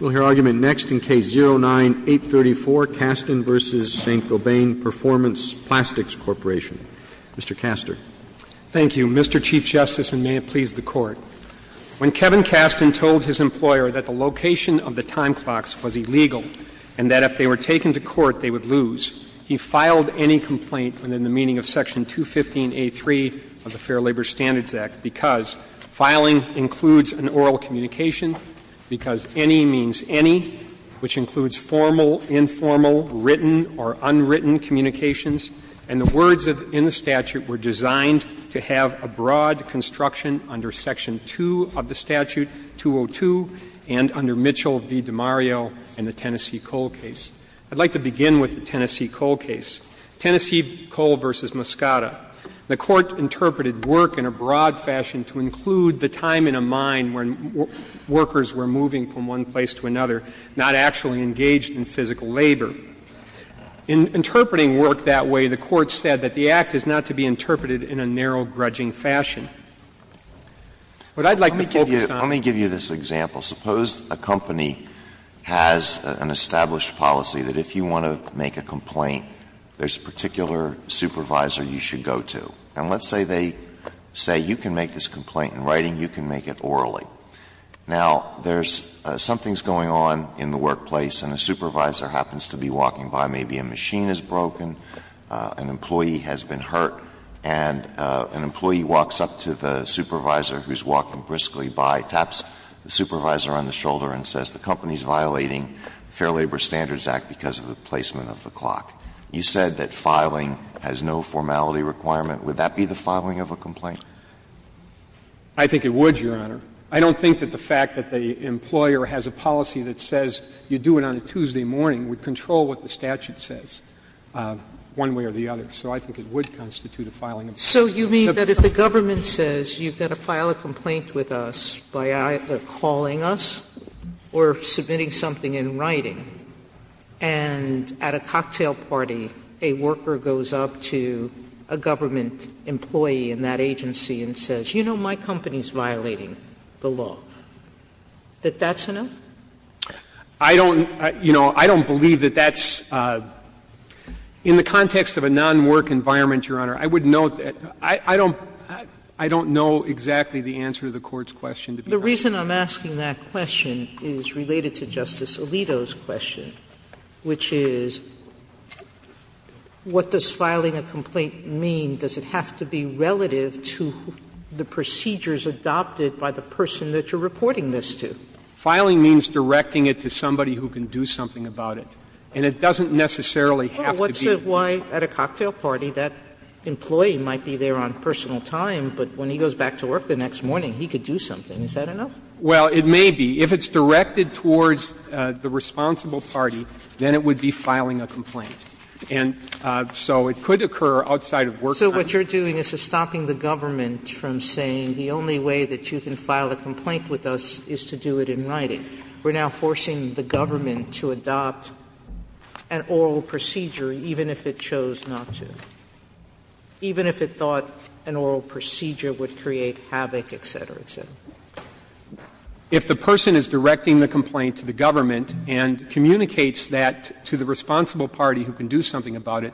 We'll hear argument next in Case 09-834, Kasten v. Saint-Gobain Performance Plastics Corporation. Mr. Kaster. Thank you, Mr. Chief Justice, and may it please the Court. When Kevin Kasten told his employer that the location of the time clocks was illegal and that if they were taken to court they would lose, he filed any complaint within the meaning of Section 215A.3 of the Fair Labor Standards Act because filing includes an oral communication, because any means any, which includes formal, informal, written, or unwritten communications. And the words in the statute were designed to have a broad construction under Section 2 of the statute, 202, and under Mitchell v. DiMario in the Tennessee Coal case. I'd like to begin with the Tennessee Coal case, Tennessee Coal v. Moscata. The Court interpreted work in a broad fashion to include the time in a mine when workers were moving from one place to another, not actually engaged in physical labor. In interpreting work that way, the Court said that the act is not to be interpreted in a narrow, grudging fashion. What I'd like to focus on is the fact that there's a lot of work to be done in a narrow, grudging fashion. And let's say they say you can make this complaint in writing, you can make it orally. Now, there's some things going on in the workplace, and a supervisor happens to be walking by, maybe a machine is broken, an employee has been hurt, and an employee walks up to the supervisor who's walking briskly by, taps the supervisor on the shoulder and says, the company's violating the Fair Labor Standards Act because of the placement of the clock. You said that filing has no formality requirement. Would that be the filing of a complaint? I think it would, Your Honor. I don't think that the fact that the employer has a policy that says you do it on a Tuesday morning would control what the statute says, one way or the other. So I think it would constitute a filing of a complaint. Sotomayor So you mean that if the government says you've got to file a complaint with us by either calling us or submitting something in writing, and at a cocktail party, a worker goes up to a government employee in that agency and says, you know my company's violating the law, that that's enough? I don't, you know, I don't believe that that's, in the context of a non-work environment, Your Honor, I would note that I don't know exactly the answer to the Court's question. Sotomayor The reason I'm asking that question is related to Justice Alito's question, which is, what does filing a complaint mean? Does it have to be relative to the procedures adopted by the person that you're reporting this to? Filing means directing it to somebody who can do something about it, and it doesn't necessarily have to be. Sotomayor Well, what's it like at a cocktail party? That employee might be there on personal time, but when he goes back to work the next morning, he could do something. Is that enough? Well, it may be. If it's directed towards the responsible party, then it would be filing a complaint. And so it could occur outside of work time. Sotomayor So what you're doing is stopping the government from saying the only way that you can file a complaint with us is to do it in writing. We're now forcing the government to adopt an oral procedure, even if it chose not to, even if it thought an oral procedure would create havoc, et cetera, et cetera. If the person is directing the complaint to the government and communicates that to the responsible party who can do something about it,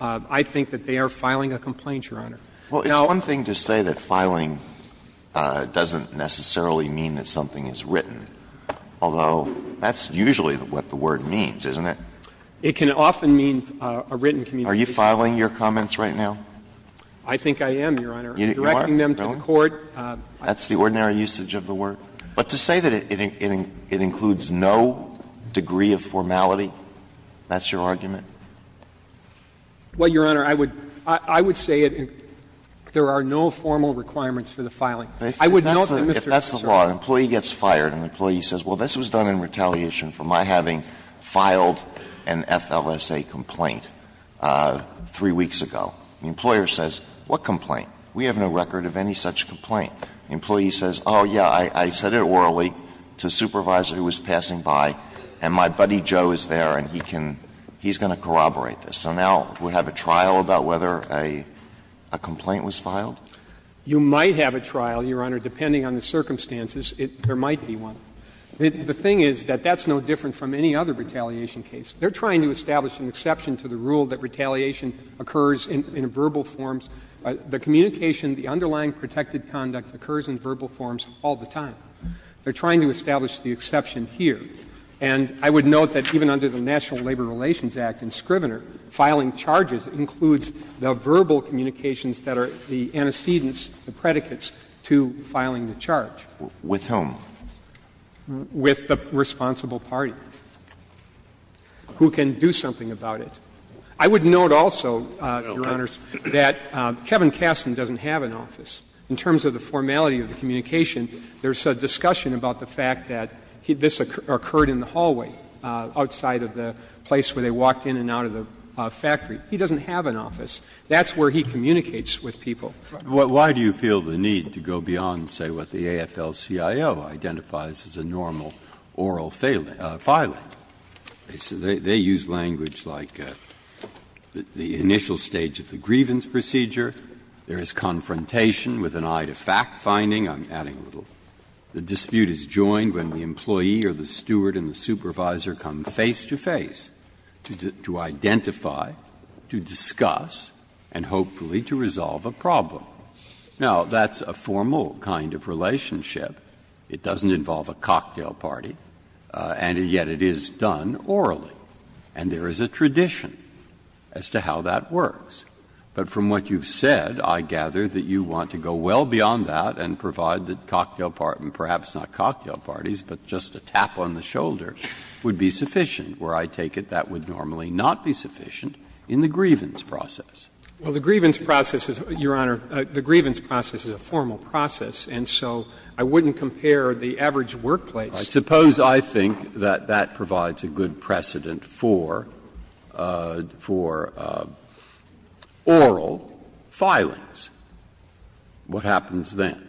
I think that they are filing a complaint, Your Honor. Now ---- Alito It's one thing to say that filing doesn't necessarily mean that something is written, although that's usually what the word means, isn't it? Sotomayor It can often mean a written communication. Alito Are you filing your comments right now? Sotomayor I think I am, Your Honor. I'm directing them to the court. Alito That's the ordinary usage of the word. But to say that it includes no degree of formality, that's your argument? Sotomayor Well, Your Honor, I would say there are no formal requirements for the filing. I would note them if they're not. Alito If that's the law, an employee gets fired and the employee says, well, this was done in retaliation for my having filed an FLSA complaint three weeks ago. The employer says, what complaint? We have no record of any such complaint. The employee says, oh, yeah, I said it orally to a supervisor who was passing by, and my buddy Joe is there and he can he's going to corroborate this. So now we have a trial about whether a complaint was filed? Sotomayor You might have a trial, Your Honor, depending on the circumstances. There might be one. The thing is that that's no different from any other retaliation case. They're trying to establish an exception to the rule that retaliation occurs in verbal forms. The communication, the underlying protected conduct occurs in verbal forms all the time. They're trying to establish the exception here. And I would note that even under the National Labor Relations Act in Scrivener, filing charges includes the verbal communications that are the antecedents, the predicates to filing the charge. Roberts With whom? Sotomayor With the responsible party who can do something about it. I would note also, Your Honors, that Kevin Kasten doesn't have an office. In terms of the formality of the communication, there's a discussion about the fact that this occurred in the hallway outside of the place where they walked in and out of the factory. He doesn't have an office. That's where he communicates with people. Breyer Why do you feel the need to go beyond, say, what the AFL-CIO identifies as a normal oral filing? Breyer They use language like the initial stage of the grievance procedure. There is confrontation with an eye to fact-finding. I'm adding a little. The dispute is joined when the employee or the steward and the supervisor come face to face to identify, to discuss, and hopefully to resolve a problem. Now, that's a formal kind of relationship. It doesn't involve a cocktail party. And yet it is done orally. And there is a tradition as to how that works. But from what you've said, I gather that you want to go well beyond that and provide the cocktail party, perhaps not cocktail parties, but just a tap on the shoulder, would be sufficient. Where I take it, that would normally not be sufficient in the grievance process. Well, the grievance process is, Your Honor, the grievance process is a formal process. And so I wouldn't compare the average workplace to that. Breyer I suppose I think that that provides a good precedent for oral filings. What happens then?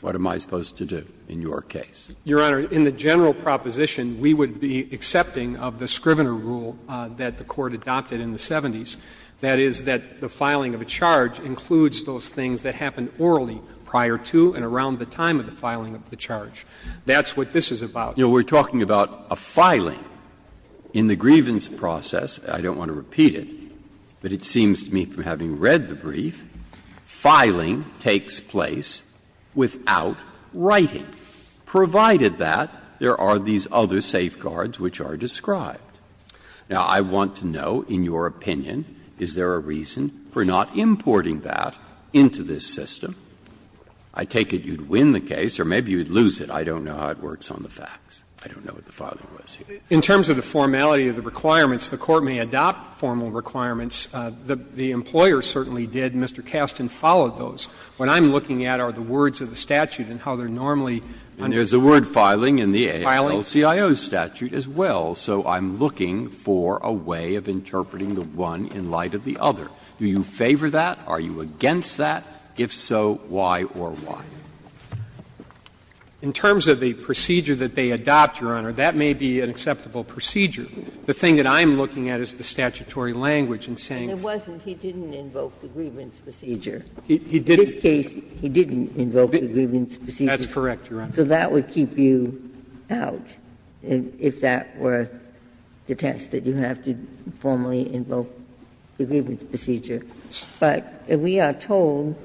What am I supposed to do in your case? Fisher Your Honor, in the general proposition, we would be accepting of the Scrivener rule that the Court adopted in the 70s, that is, that the filing of a charge includes those things that happened orally prior to and around the time of the filing of the charge. That's what this is about. Breyer You know, we're talking about a filing. In the grievance process, I don't want to repeat it, but it seems to me from having read the brief, filing takes place without writing, provided that there are these other safeguards which are described. Now, I want to know, in your opinion, is there a reason for not importing that into this system? I take it you'd win the case, or maybe you'd lose it. I don't know how it works on the facts. I don't know what the filing was here. Fisher In terms of the formality of the requirements, the Court may adopt formal requirements. The employer certainly did, and Mr. Kasten followed those. What I'm looking at are the words of the statute and how they're normally on the statute. Breyer And there's the word filing in the AALCIO statute as well. So I'm looking for a way of interpreting the one in light of the other. Do you favor that? Are you against that? If so, why or why? In terms of the procedure that they adopt, Your Honor, that may be an acceptable procedure. The thing that I'm looking at is the statutory language in saying that. Ginsburg And it wasn't, he didn't invoke the grievance procedure. In this case, he didn't invoke the grievance procedure. Fisher That's correct, Your Honor. Ginsburg So that would keep you out, if that were the test, that you have to formally invoke the grievance procedure. But we are told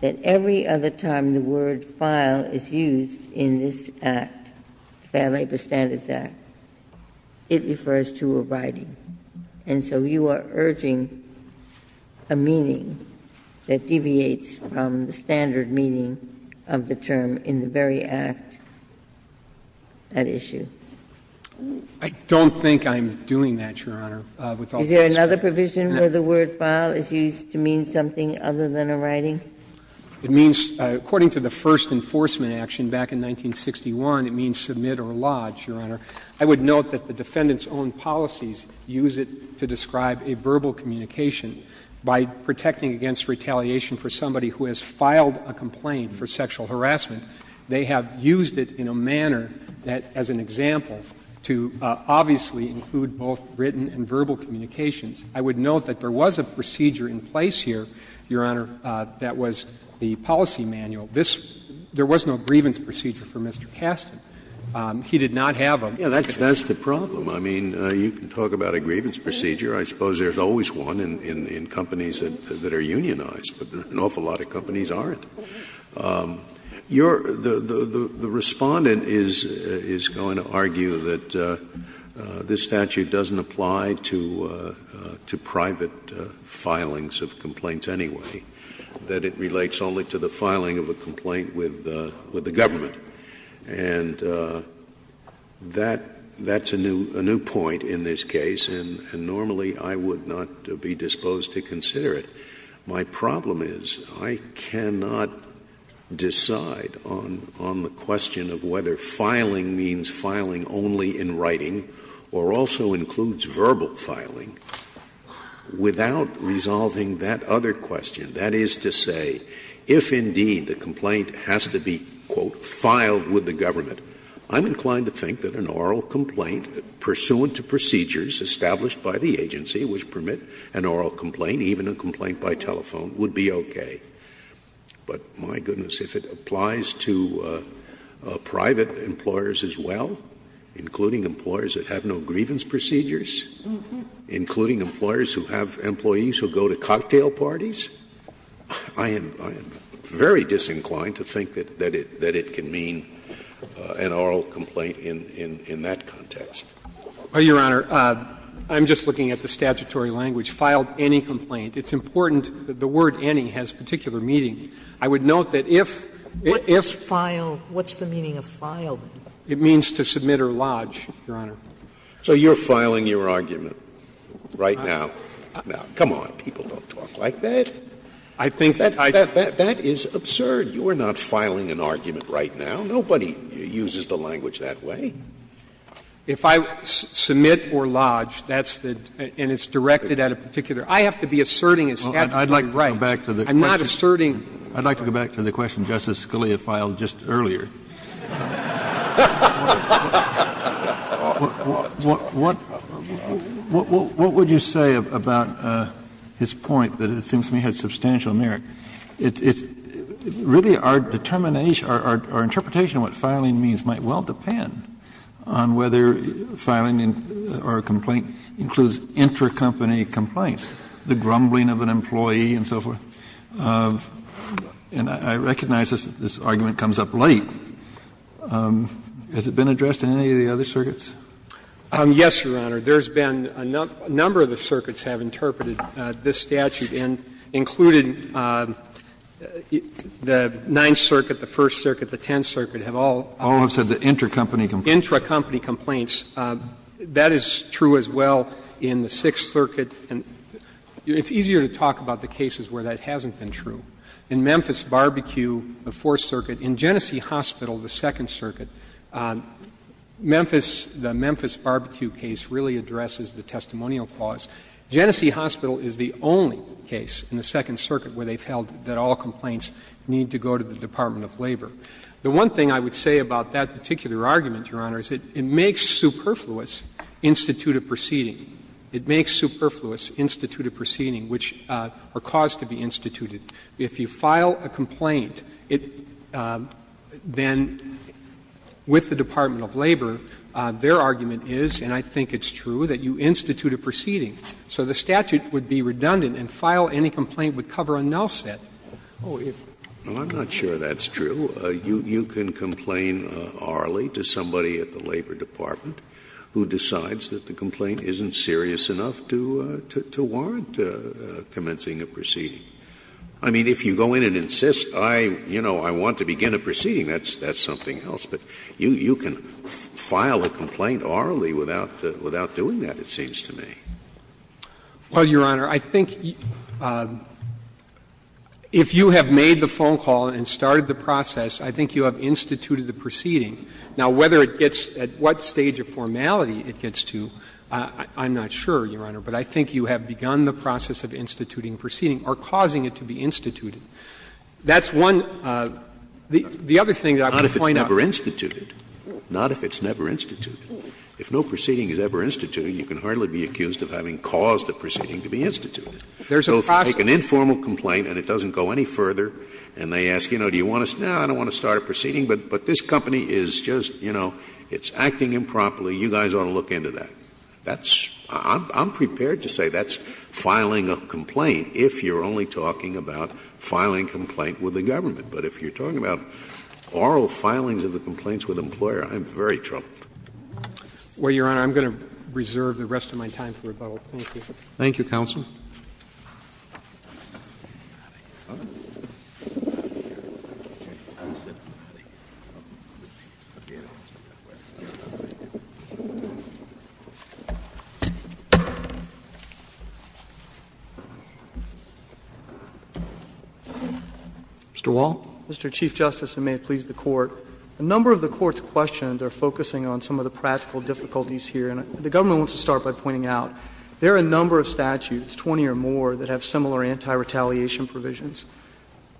that every other time the word file is used in this Act, the Fair Labor Standards Act, it refers to a writing. And so you are urging a meaning that deviates from the standard meaning of the term in the very Act, that issue. Fisher I don't think I'm doing that, Your Honor, with all due respect. Ginsburg The provision where the word file is used to mean something other than a writing? Fisher It means, according to the first enforcement action back in 1961, it means submit or lodge, Your Honor. I would note that the defendant's own policies use it to describe a verbal communication. By protecting against retaliation for somebody who has filed a complaint for sexual harassment, they have used it in a manner that, as an example, to obviously include both written and verbal communications. I would note that there was a procedure in place here, Your Honor, that was the policy manual. This — there was no grievance procedure for Mr. Kasten. He did not have a grievance procedure. Scalia That's the problem. I mean, you can talk about a grievance procedure. I suppose there's always one in companies that are unionized, but an awful lot of companies aren't. Your — the Respondent is going to argue that this statute doesn't apply to private filings of complaints anyway, that it relates only to the filing of a complaint with the government. And that's a new point in this case, and normally I would not be disposed to consider it. My problem is I cannot decide on the question of whether filing means filing only in writing or also includes verbal filing without resolving that other question. That is to say, if indeed the complaint has to be, quote, filed with the government, I'm inclined to think that an oral complaint pursuant to procedures established by the agency which permit an oral complaint, even a complaint by telephone, would be okay. But my goodness, if it applies to private employers as well, including employers that have no grievance procedures, including employers who have employees who go to cocktail parties, I am — I am very disinclined to think that it — that it can mean an oral complaint in that context. Well, Your Honor, I'm just looking at the statutory language. Filed any complaint. It's important that the word any has particular meaning. I would note that if — if — What does file — what's the meaning of file? It means to submit or lodge, Your Honor. So you're filing your argument right now? Now, come on. People don't talk like that. I think I — That is absurd. You are not filing an argument right now. Nobody uses the language that way. If I submit or lodge, that's the — and it's directed at a particular — I have to be asserting its statutory right. I'm not asserting. I'd like to go back to the question Justice Scalia filed just earlier. What would you say about his point that it seems to me has substantial merit? It's really our determination, our interpretation of what filing means might well depend on whether filing or a complaint includes intercompany complaints, the grumbling of an employee and so forth. And I recognize this argument comes up late. Has it been addressed in any of the other circuits? Yes, Your Honor. There's been a number of the circuits have interpreted this statute and included the Ninth Circuit, the First Circuit, the Tenth Circuit have all— All have said the intercompany complaints. Intercompany complaints. That is true as well in the Sixth Circuit. And it's easier to talk about the cases where that hasn't been true. In Memphis Barbecue, the Fourth Circuit, in Genesee Hospital, the Second Circuit, Memphis — the Memphis Barbecue case really addresses the testimonial clause. Genesee Hospital is the only case in the Second Circuit where they've held that all complaints need to go to the Department of Labor. The one thing I would say about that particular argument, Your Honor, is it makes superfluous instituted proceeding. It makes superfluous instituted proceeding, which are caused to be instituted. If you file a complaint, then with the Department of Labor, their argument is, and I think it's true, that you institute a proceeding. So the statute would be redundant and file any complaint would cover a null set. Scalia Well, I'm not sure that's true. You can complain orally to somebody at the Labor Department who decides that the complaint isn't serious enough to warrant commencing a proceeding. I mean, if you go in and insist, I, you know, I want to begin a proceeding, that's something else. But you can file a complaint orally without doing that, it seems to me. Well, Your Honor, I think if you have made the phone call and started the process, I think you have instituted the proceeding. Now, whether it gets at what stage of formality it gets to, I'm not sure, Your Honor. But I think you have begun the process of instituting proceeding or causing it to be instituted. That's one. The other thing that I would point out. Scalia Not if it's never instituted. Not if it's never instituted. If no proceeding is ever instituted, you can hardly be accused of having caused a proceeding to be instituted. So if you make an informal complaint and it doesn't go any further, and they ask, you know, do you want to start? No, I don't want to start a proceeding, but this company is just, you know, it's acting improperly. You guys ought to look into that. That's — I'm prepared to say that's filing a complaint if you're only talking about filing a complaint with the government. But if you're talking about oral filings of the complaints with the employer, I'm very troubled. Well, Your Honor, I'm going to reserve the rest of my time for rebuttal. Thank you. Thank you, counsel. Mr. Wall? Mr. Chief Justice, and may it please the Court, a number of the Court's questions are focusing on some of the practical difficulties here. And the government wants to start by pointing out there are a number of statutes, 20 or more, that have similar anti-retaliation provisions.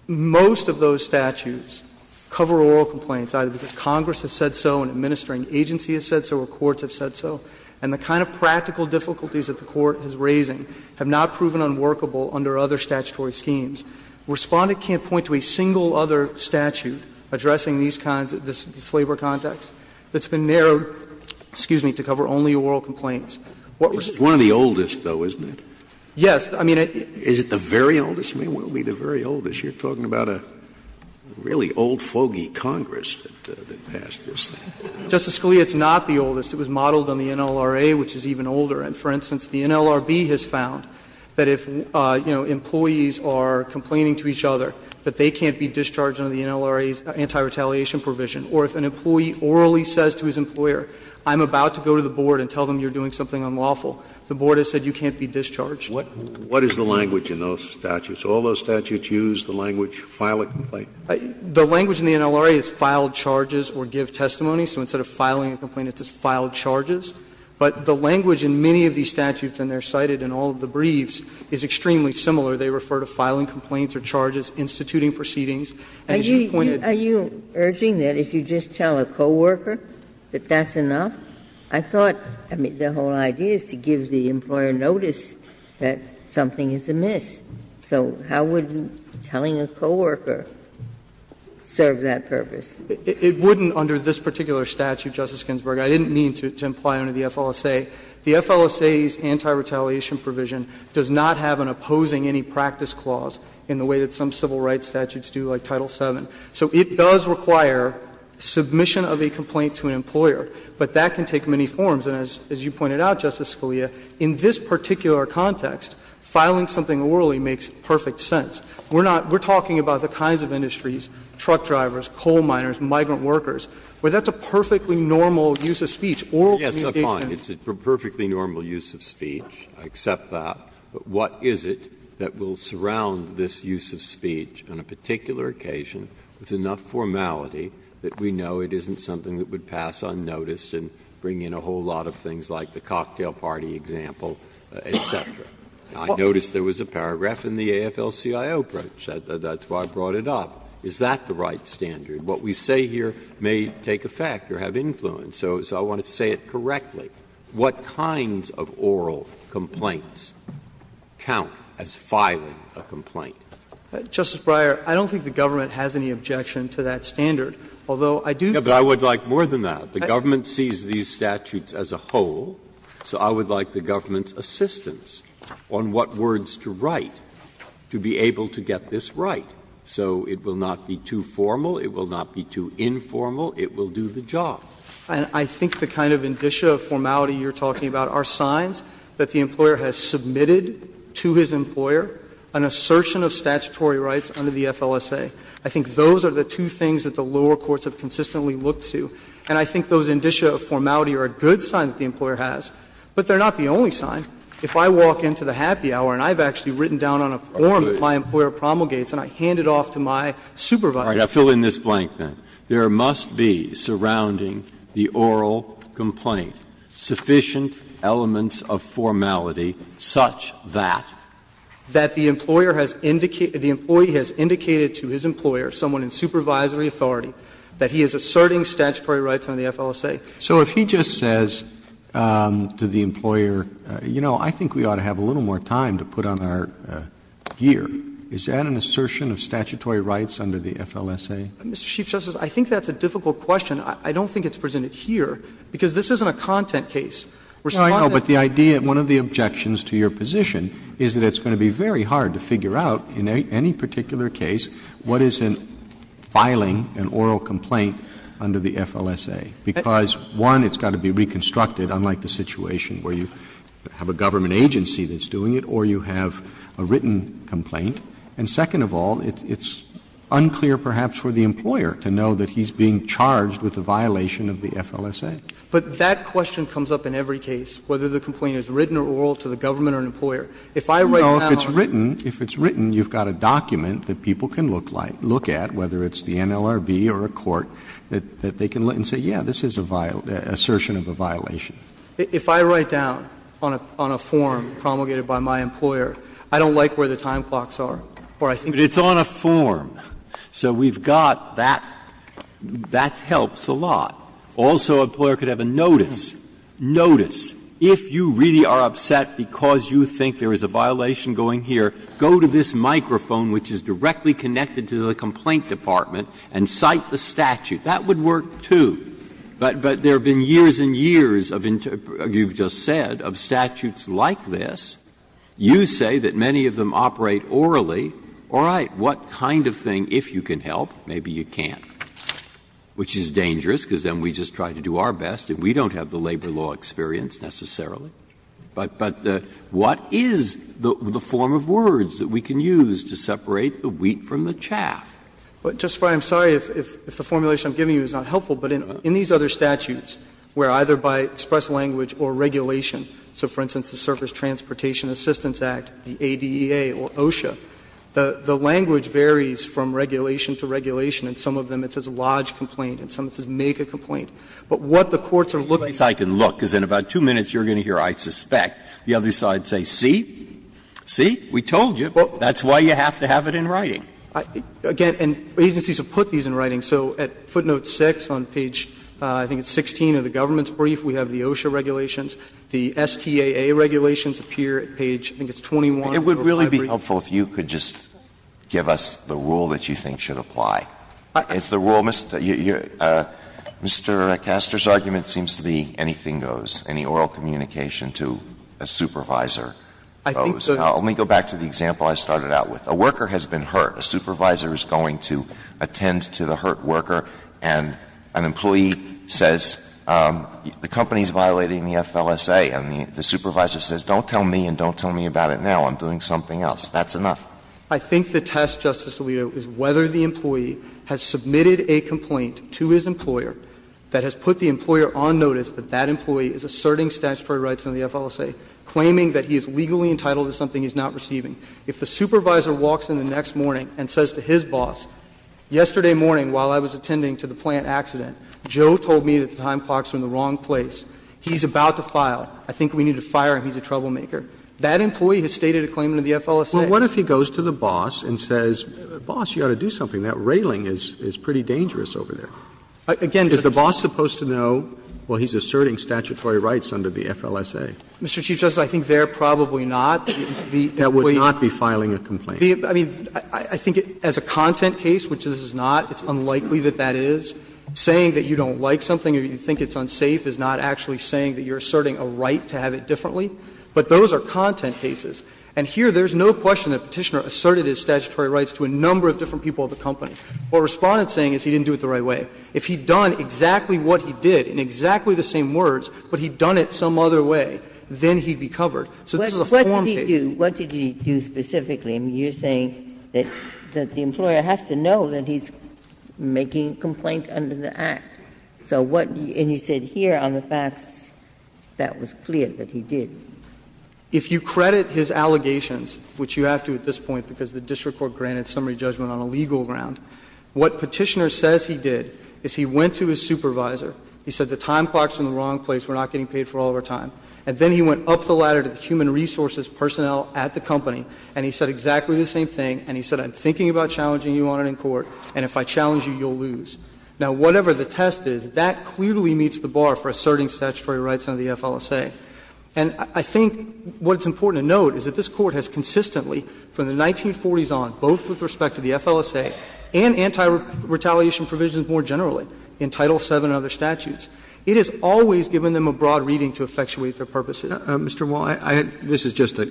Most of those statutes cover oral complaints, either because Congress has said so and administering agency has said so or courts have said so, and the kind of practical difficulties that the Court is raising have not proven unworkable under other statutory schemes. Respondent can't point to a single other statute addressing these kinds of — this has been narrowed, excuse me, to cover only oral complaints. Scalia's one of the oldest, though, isn't it? Yes. I mean, I think it's the very oldest, it may well be the very oldest. You're talking about a really old, foggy Congress that passed this thing. Justice Scalia, it's not the oldest. It was modeled on the NLRA, which is even older. And for instance, the NLRB has found that if, you know, employees are complaining to each other, that they can't be discharged under the NLRA's anti-retaliation provision, or if an employee orally says to his employer, I'm about to go to the board and tell them you're doing something unlawful, the board has said you can't be discharged. What is the language in those statutes? Do all those statutes use the language, file a complaint? The language in the NLRA is file charges or give testimony. So instead of filing a complaint, it says file charges. But the language in many of these statutes, and they're cited in all of the briefs, is extremely similar. They refer to filing complaints or charges, instituting proceedings, and as you pointed Are you urging that if you just tell a coworker that that's enough? I thought the whole idea is to give the employer notice that something is amiss. So how would telling a coworker serve that purpose? It wouldn't under this particular statute, Justice Ginsburg. I didn't mean to imply under the FLSA. The FLSA's anti-retaliation provision does not have an opposing any practice clause in the way that some civil rights statutes do, like Title VII. So it does require submission of a complaint to an employer, but that can take many forms. And as you pointed out, Justice Scalia, in this particular context, filing something orally makes perfect sense. We're not we're talking about the kinds of industries, truck drivers, coal miners, migrant workers, where that's a perfectly normal use of speech. Oral communication. Breyer, it's a perfectly normal use of speech. I accept that. But what is it that will surround this use of speech on a particular occasion with enough formality that we know it isn't something that would pass unnoticed and bring in a whole lot of things like the cocktail party example, et cetera? I noticed there was a paragraph in the AFL-CIO approach. That's why I brought it up. Is that the right standard? What we say here may take effect or have influence. So I want to say it correctly. What kinds of oral complaints count as filing a complaint? Justice Breyer, I don't think the government has any objection to that standard, although I do think that the government sees these statutes as a whole, so I would like the government's assistance on what words to write to be able to get this right. So it will not be too formal, it will not be too informal, it will do the job. And I think the kind of indicia of formality you're talking about are signs that the employer has submitted to his employer an assertion of statutory rights under the FLSA. I think those are the two things that the lower courts have consistently looked to. And I think those indicia of formality are a good sign that the employer has, but they're not the only sign. If I walk into the happy hour and I've actually written down on a form that my employer promulgates and I hand it off to my supervisor. Breyer, I'll fill in this blank then. There must be, surrounding the oral complaint, sufficient elements of formality such that. That the employer has indicated, the employee has indicated to his employer, someone in supervisory authority, that he is asserting statutory rights under the FLSA. So if he just says to the employer, you know, I think we ought to have a little more time to put on our gear. Is that an assertion of statutory rights under the FLSA? Mr. Chief Justice, I think that's a difficult question. I don't think it's presented here, because this isn't a content case. We're responding to the idea. No, I know, but the idea, one of the objections to your position is that it's going to be very hard to figure out in any particular case what is in filing an oral complaint under the FLSA, because, one, it's got to be reconstructed, unlike the situation where you have a government agency that's doing it, or you have a written complaint and, second of all, it's unclear, perhaps, for the employer to know that he's being charged with a violation of the FLSA. But that question comes up in every case, whether the complaint is written or oral to the government or an employer. If I write down on a form. No, if it's written, if it's written, you've got a document that people can look at, whether it's the NLRB or a court, that they can look and say, yes, this is an assertion of a violation. If I write down on a form promulgated by my employer, I don't like where the time blocks are, or I think it's on a form. So we've got that, that helps a lot. Also, an employer could have a notice, notice, if you really are upset because you think there is a violation going here, go to this microphone, which is directly connected to the complaint department, and cite the statute. That would work, too. But there have been years and years of, you've just said, of statutes like this. You say that many of them operate orally. All right. What kind of thing, if you can help, maybe you can't, which is dangerous, because then we just try to do our best and we don't have the labor law experience necessarily. But what is the form of words that we can use to separate the wheat from the chaff? Fisherman, I'm sorry if the formulation I'm giving you is not helpful, but in these other statutes, where either by express language or regulation, so for instance, the Circus Transportation Assistance Act, the ADEA or OSHA, the language varies from regulation to regulation, and some of them it says lodge complaint, and some it says make a complaint. But what the courts are looking for is that the other side can look, because in about two minutes you're going to hear, I suspect, the other side say, see, see, we told you. That's why you have to have it in writing. Again, and agencies have put these in writing. So at footnote 6 on page, I think it's 16 of the government's brief, we have the OSHA regulations, the STAA regulations appear at page, I think it's 21 of your brief. Alito, it would really be helpful if you could just give us the rule that you think should apply. It's the rule, Mr. Castor's argument seems to be anything goes, any oral communication to a supervisor. Let me go back to the example I started out with. A worker has been hurt. A supervisor is going to attend to the hurt worker, and an employee says, the company is violating the FLSA. And the supervisor says, don't tell me and don't tell me about it now, I'm doing something else. That's enough. I think the test, Justice Alito, is whether the employee has submitted a complaint to his employer that has put the employer on notice that that employee is asserting statutory rights under the FLSA, claiming that he is legally entitled to something he's not receiving. If the supervisor walks in the next morning and says to his boss, yesterday morning while I was attending to the plant accident, Joe told me that the time clocks were in the wrong place, he's about to file, I think we need to fire him, he's a troublemaker, that employee has stated a claim to the FLSA. Well, what if he goes to the boss and says, boss, you ought to do something, that railing is pretty dangerous over there? Again, Justice Roberts. Is the boss supposed to know, well, he's asserting statutory rights under the FLSA? Mr. Chief Justice, I think they're probably not. That would not be filing a complaint. I mean, I think as a content case, which this is not, it's unlikely that that is. Saying that you don't like something or you think it's unsafe is not actually saying that you're asserting a right to have it differently. But those are content cases. And here there's no question that Petitioner asserted his statutory rights to a number of different people at the company. What Respondent is saying is he didn't do it the right way. If he had done exactly what he did in exactly the same words, but he had done it some other way, then he'd be covered. So this is a form case. Ginsburg. What did he do specifically? I mean, you're saying that the employer has to know that he's making a complaint under the Act. So what you said here on the facts, that was clear that he did. If you credit his allegations, which you have to at this point because the district court granted summary judgment on a legal ground, what Petitioner says he did is he went to his supervisor, he said the time clock is in the wrong place, we're not getting paid for all of our time, and then he went up the ladder to the human resources personnel at the company, and he said exactly the same thing, and he said, I'm thinking about challenging you on it in court, and if I challenge you, you'll lose. Now, whatever the test is, that clearly meets the bar for asserting statutory rights under the FLSA. And I think what's important to note is that this Court has consistently, from the 1940s on, both with respect to the FLSA and anti-retaliation provisions more generally, in Title VII and other statutes, it has always given them a broad reading to effectuate their purposes. Roberts Mr. Wall, this is just a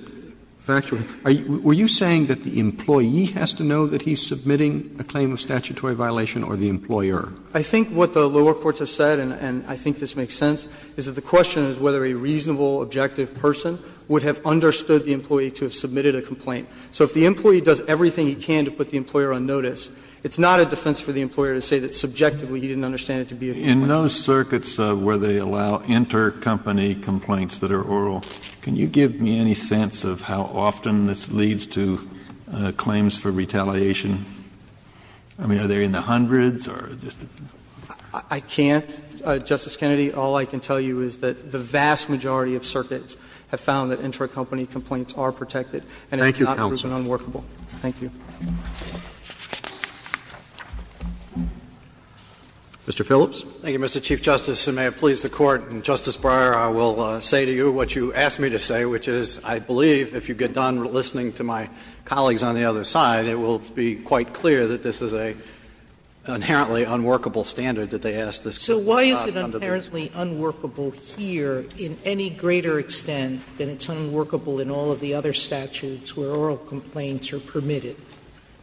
factual. Were you saying that the employee has to know that he's submitting a claim of statutory violation or the employer? Wall, I think what the lower courts have said, and I think this makes sense, is that the question is whether a reasonable, objective person would have understood the employee to have submitted a complaint. So if the employee does everything he can to put the employer on notice, it's not a defense for the employer to say that subjectively he didn't understand it to be a complaint. Kennedy In those circuits where they allow intercompany complaints that are oral, can you give me any sense of how often this leads to claims for retaliation? I mean, are there in the hundreds or just the? Wall, I can't, Justice Kennedy. All I can tell you is that the vast majority of circuits have found that intercompany And it's not proven unworkable. Roberts Thank you, counsel. Wall, thank you. Roberts Mr. Phillips. Phillips Thank you, Mr. Chief Justice, and may it please the Court and Justice Breyer, I will say to you what you asked me to say, which is I believe if you get done listening to my colleagues on the other side, it will be quite clear that this is an inherently unworkable standard that they ask this complaint about under the statute. Sotomayor So why is it inherently unworkable here in any greater extent than it's unworkable in all of the other statutes where oral complaints are permitted?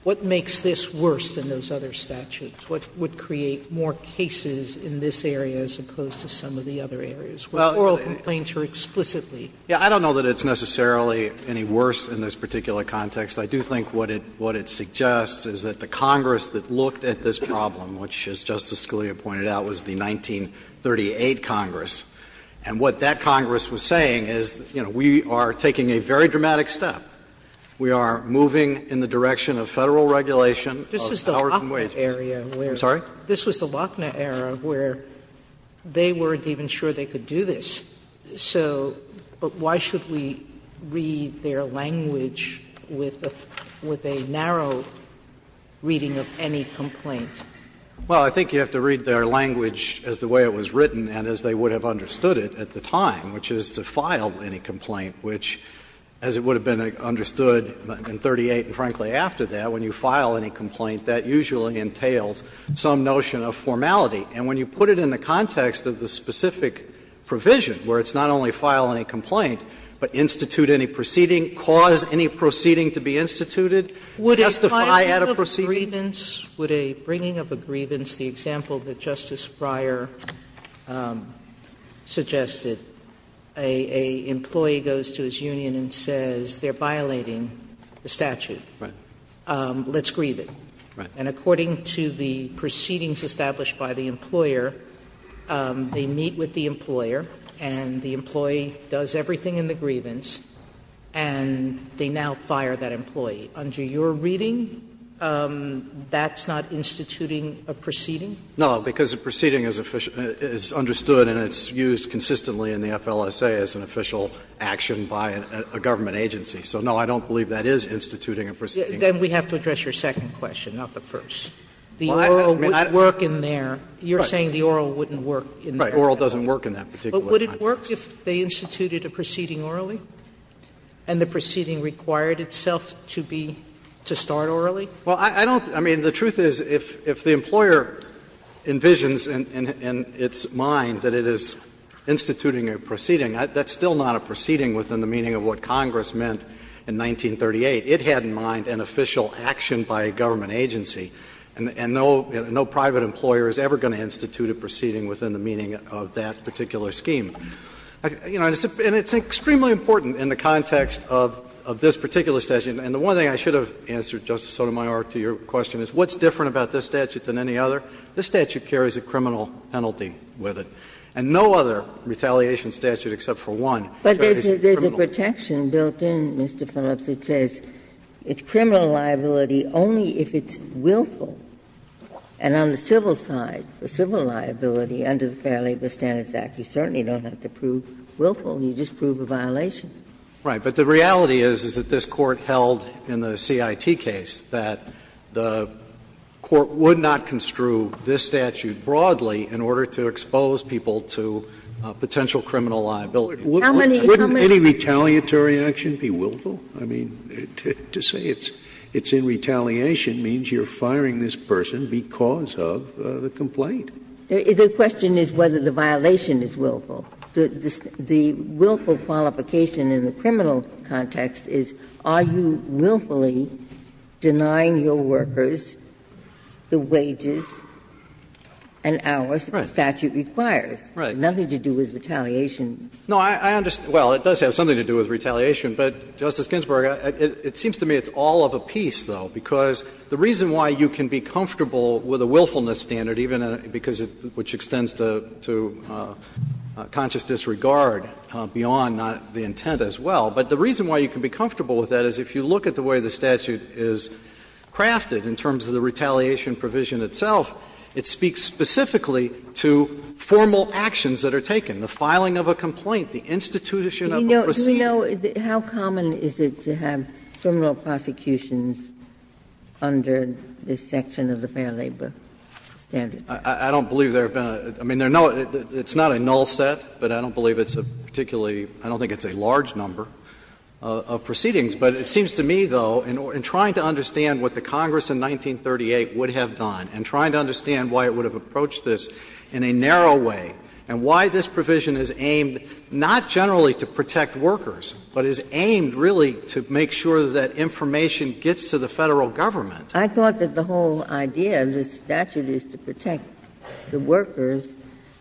What makes this worse than those other statutes? What would create more cases in this area as opposed to some of the other areas where oral complaints are explicitly? Phillips I don't know that it's necessarily any worse in this particular context. I do think what it suggests is that the Congress that looked at this problem, which, as Justice Scalia pointed out, was the 1938 Congress, and what that Congress was saying is, you know, we are taking a very dramatic step. We are moving in the direction of Federal regulation of hours and wages. Sotomayor I'm sorry? Sotomayor This was the Lochner era where they weren't even sure they could do this. So, but why should we read their language with a narrow reading of any complaint? Phillips Well, I think you have to read their language as the way it was written and as they would have understood it at the time, which is to file any complaint, which, as it would have been understood in 1938 and, frankly, after that, when you file any complaint, that usually entails some notion of formality. And when you put it in the context of the specific provision where it's not only file any complaint, but institute any proceeding, cause any proceeding to be instituted, justify at a proceeding. Sotomayor Would a bringing of a grievance, the example that Justice Breyer suggested, a employee goes to his union and says they are violating the statute. Phillips Right. Sotomayor Let's grieve it. And according to the proceedings established by the employer, they meet with the employer and the employee does everything in the grievance and they now fire that employee. Under your reading, that's not instituting a proceeding? Phillips No, because a proceeding is understood and it's used consistently in the FLSA as an official action by a government agency. So, no, I don't believe that is instituting a proceeding. Sotomayor Then we have to address your second question, not the first. The oral would work in there. You're saying the oral wouldn't work in there. Phillips Right. Oral doesn't work in that particular context. Sotomayor But would it work if they instituted a proceeding orally and the proceeding required itself to be, to start orally? Phillips Well, I don't, I mean, the truth is if the employer envisions in its mind that it is instituting a proceeding, that's still not a proceeding within the meaning of what the FLSA had in mind in 1938. It had in mind an official action by a government agency and no, no private employer is ever going to institute a proceeding within the meaning of that particular scheme. You know, and it's extremely important in the context of this particular statute and the one thing I should have answered, Justice Sotomayor, to your question is what's different about this statute than any other? This statute carries a criminal penalty with it and no other retaliation statute except for one carries a criminal penalty. But the reason it's been built in, Mr. Phillips, it says it's criminal liability only if it's willful. And on the civil side, the civil liability under the Fair Labor Standards Act, you certainly don't have to prove willful, you just prove a violation. Phillips Right. But the reality is, is that this Court held in the CIT case that the Court would not construe this statute broadly in order to expose people to potential criminal liability. Scalia Wouldn't any retaliatory action be willful? I mean, to say it's in retaliation means you're firing this person because of the complaint. Ginsburg The question is whether the violation is willful. The willful qualification in the criminal context is are you willfully denying your workers the wages and hours the statute requires? Phillips Right. Ginsburg Nothing to do with retaliation. Phillips No, I understand. Well, it does have something to do with retaliation. But, Justice Ginsburg, it seems to me it's all of a piece, though, because the reason why you can be comfortable with a willfulness standard, even because it extends to conscious disregard beyond the intent as well, but the reason why you can be comfortable with that is if you look at the way the statute is crafted in terms of the retaliation provision itself, it speaks specifically to formal actions that are taken, the filing of a complaint, the institution of a proceeding. Ginsburg Do we know how common is it to have criminal prosecutions under this section of the Fair Labor Standards Act? Phillips I don't believe there have been. I mean, it's not a null set, but I don't believe it's a particularly – I don't think it's a large number of proceedings. But it seems to me, though, in trying to understand what the Congress in 1938 would have done, and trying to understand why it would have approached this in a narrow way, and why this provision is aimed not generally to protect workers, but is aimed really to make sure that information gets to the Federal Government. Ginsburg I thought that the whole idea of this statute is to protect the workers,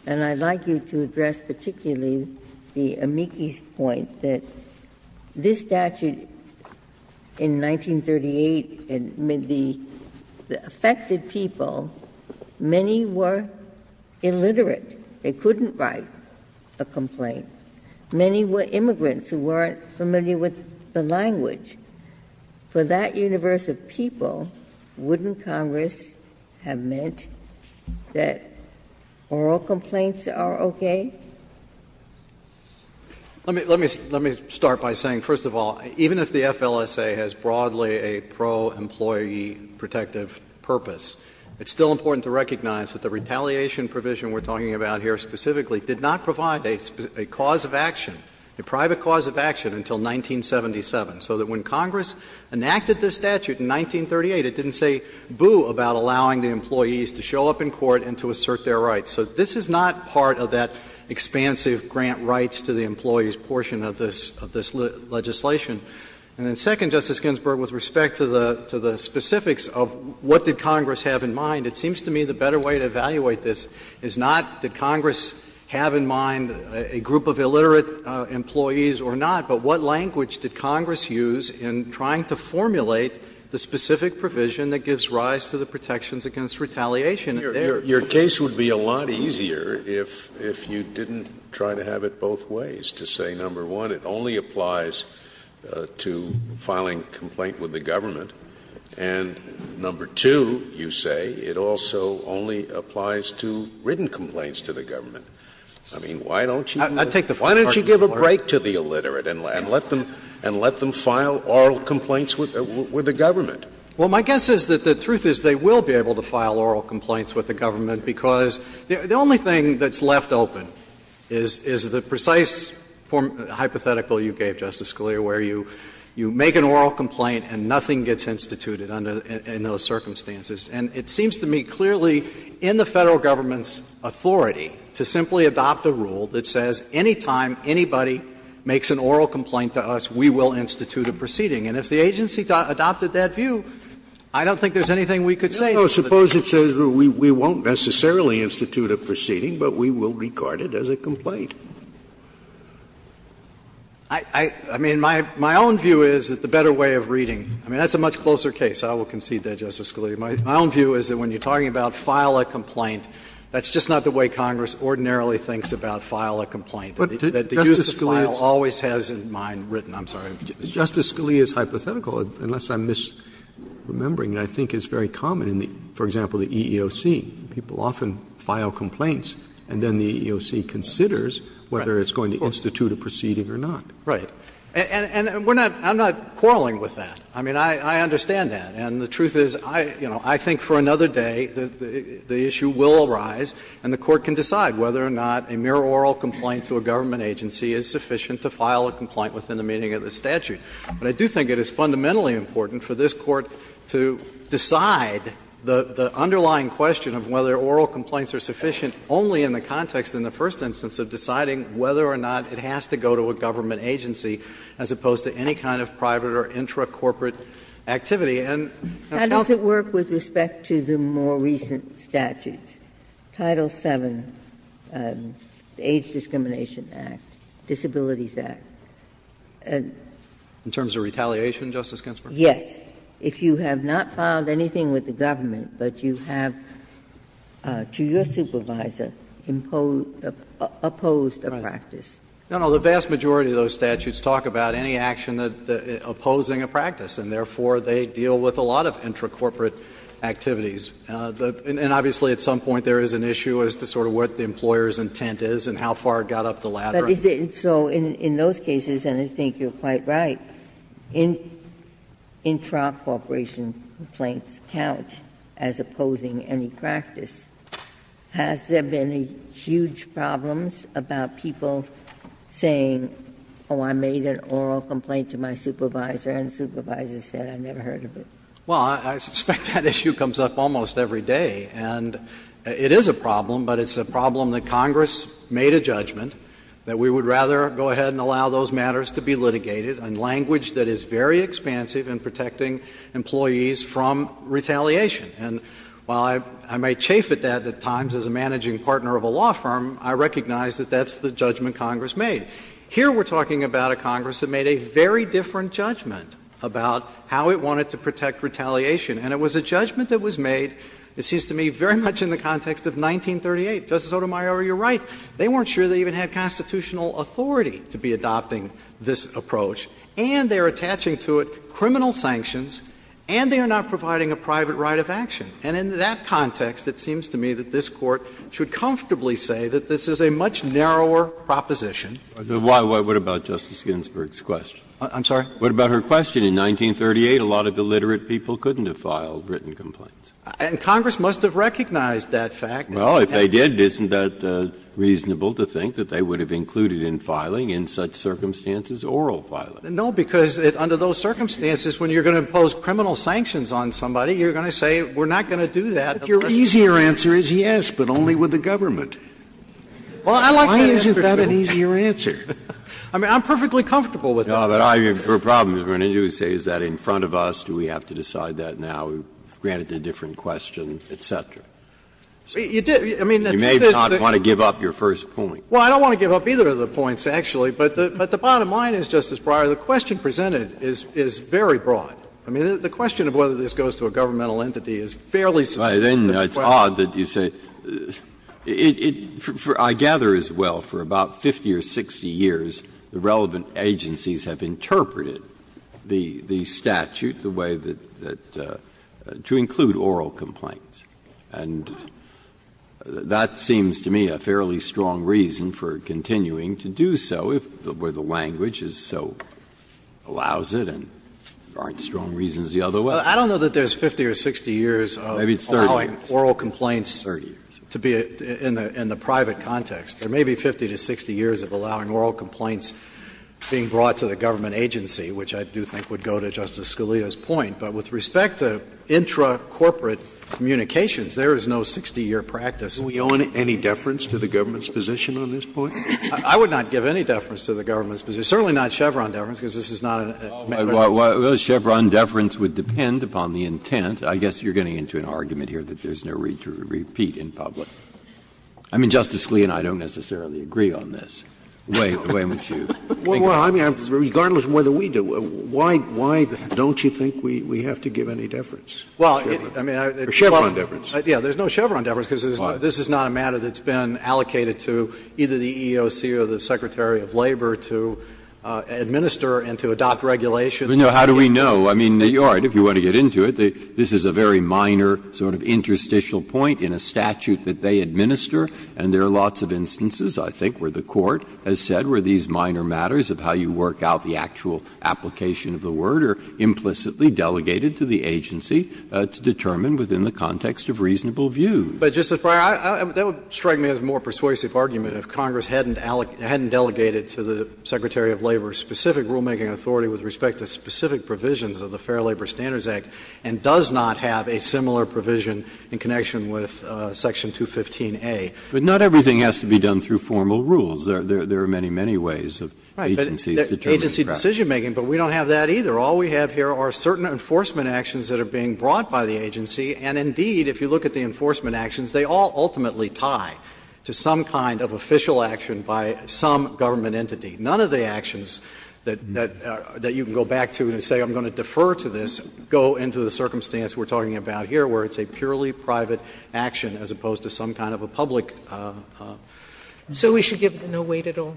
and I'd like you to address particularly the amici's point, that this statute in 1938, I mean, the affected people, many were illiterate. They couldn't write a complaint. Many were immigrants who weren't familiar with the language. For that universe of people, wouldn't Congress have meant that oral complaints are okay? Phillips Well, let me start by saying, first of all, even if the FLSA has broadly a pro-employee protective purpose, it's still important to recognize that the retaliation provision we're talking about here specifically did not provide a cause of action, a private cause of action, until 1977. So that when Congress enacted this statute in 1938, it didn't say boo about allowing the employees to show up in court and to assert their rights. So this is not part of that expansive grant rights to the employees portion of this legislation. And then second, Justice Ginsburg, with respect to the specifics of what did Congress have in mind, it seems to me the better way to evaluate this is not did Congress have in mind a group of illiterate employees or not, but what language did Congress use in trying to formulate the specific provision that gives rise to the protections against retaliation. Scalia, your case would be a lot easier if you didn't try to have it both ways, to say, number one, it only applies to filing a complaint with the government, and number two, you say, it also only applies to written complaints to the government. I mean, why don't you give a break to the illiterate and let them file oral complaints with the government? Well, my guess is that the truth is they will be able to file oral complaints with the government, because the only thing that's left open is the precise hypothetical you gave, Justice Scalia, where you make an oral complaint and nothing gets instituted under the – in those circumstances. And it seems to me clearly in the Federal government's authority to simply adopt a rule that says any time anybody makes an oral complaint to us, we will institute a proceeding. And if the agency adopted that view, I don't think there's anything we could say. Scalia, suppose it says we won't necessarily institute a proceeding, but we will regard it as a complaint. I mean, my own view is that the better way of reading – I mean, that's a much closer case. I will concede that, Justice Scalia. My own view is that when you're talking about file a complaint, that's just not the way Congress ordinarily thinks about file a complaint. That the use of file always has in mind written. I'm sorry. Justice Scalia's hypothetical, unless I'm misremembering, I think is very common in the – for example, the EEOC. People often file complaints and then the EEOC considers whether it's going to institute a proceeding or not. Right. And we're not – I'm not quarreling with that. I mean, I understand that. And the truth is, you know, I think for another day the issue will arise and the Court can decide whether or not a mere oral complaint to a government agency is sufficient to file a complaint within the meaning of the statute. But I do think it is fundamentally important for this Court to decide the underlying question of whether oral complaints are sufficient only in the context in the first instance of deciding whether or not it has to go to a government agency as opposed to any kind of private or intra-corporate activity. And I think that's the way it is. Ginsburg. How does it work with respect to the more recent statutes? Title VII, the Age Discrimination Act, Disabilities Act. And the other one is Title VII. In terms of retaliation, Justice Ginsburg? Yes. If you have not filed anything with the government, but you have, to your supervisor, imposed – opposed a practice. No, no. The vast majority of those statutes talk about any action opposing a practice, and therefore they deal with a lot of intra-corporate activities. And obviously at some point there is an issue as to sort of what the employer's intent is and how far it got up the ladder. But is it so in those cases, and I think you're quite right, intra-corporation complaints count as opposing any practice. Has there been any huge problems about people saying, oh, I made an oral complaint to my supervisor, and the supervisor said I never heard of it? Well, I suspect that issue comes up almost every day. And it is a problem, but it's a problem that Congress made a judgment that we would rather go ahead and allow those matters to be litigated in language that is very expansive in protecting employees from retaliation. And while I may chafe at that at times as a managing partner of a law firm, I recognize that that's the judgment Congress made. Here we're talking about a Congress that made a very different judgment about how it wanted to protect retaliation, and it was a judgment that was made, it seems to me, very much in the context of 1938. Justice Sotomayor, you're right. They weren't sure they even had constitutional authority to be adopting this approach, and they are attaching to it criminal sanctions, and they are not providing a private right of action. And in that context, it seems to me that this Court should comfortably say that this is a much narrower proposition. Breyer, what about Justice Ginsburg's question? I'm sorry? What about her question? In 1938, a lot of illiterate people couldn't have filed written complaints. And Congress must have recognized that fact. Well, if they did, isn't that reasonable to think that they would have included in filing in such circumstances oral filing? No, because under those circumstances, when you're going to impose criminal sanctions on somebody, you're going to say we're not going to do that. But your easier answer is yes, but only with the government. Well, I like that answer, too. Why isn't that an easier answer? I mean, I'm perfectly comfortable with that. But I have a problem with what you say, is that in front of us, do we have to decide that now, granted a different question, et cetera. You may not want to give up your first point. Well, I don't want to give up either of the points, actually. But the bottom line is, Justice Breyer, the question presented is very broad. I mean, the question of whether this goes to a governmental entity is fairly simple. Then it's odd that you say – I gather as well, for about 50 or 60 years, the relevant agencies have interpreted the statute the way that – to include oral complaints. And that seems to me a fairly strong reason for continuing to do so, where the language is so – allows it and there aren't strong reasons the other way. I don't know that there's 50 or 60 years of allowing oral complaints to be in the private context. There may be 50 to 60 years of allowing oral complaints being brought to the government agency, which I do think would go to Justice Scalia's point. But with respect to intra-corporate communications, there is no 60-year practice. Can we own any deference to the government's position on this point? I would not give any deference to the government's position, certainly not Chevron deference, because this is not a matter of— Well, Chevron deference would depend upon the intent. I guess you're getting into an argument here that there's no need to repeat in public. I mean, Justice Scalia and I don't necessarily agree on this. Why don't you think about it? Well, I mean, regardless of whether we do, why don't you think we have to give any deference? Well, I mean, I would— Or Chevron deference. Yeah, there's no Chevron deference, because this is not a matter that's been allocated to either the EEOC or the Secretary of Labor to administer and to adopt regulations. But, you know, how do we know? I mean, all right, if you want to get into it, this is a very minor sort of interstitial point in a statute that they administer, and there are lots of instances, I think, where the Court has said where these minor matters of how you work out the actual application of the word are implicitly delegated to the agency to determine within the context of reasonable views. But, Justice Breyer, that would strike me as a more persuasive argument if Congress hadn't delegated to the Secretary of Labor specific rulemaking authority with respect to specific provisions of the Fair Labor Standards Act and does not have a similar provision in connection with Section 215a. But not everything has to be done through formal rules. There are many, many ways of agencies determining facts. Right. Agency decisionmaking, but we don't have that either. All we have here are certain enforcement actions that are being brought by the agency, and indeed, if you look at the enforcement actions, they all ultimately tie to some kind of official action by some government entity. None of the actions that you can go back to and say, I'm going to defer to this, go into the circumstance we're talking about here where it's a purely private action as opposed to some kind of a public action. Sotomayor, So we should give it no weight at all?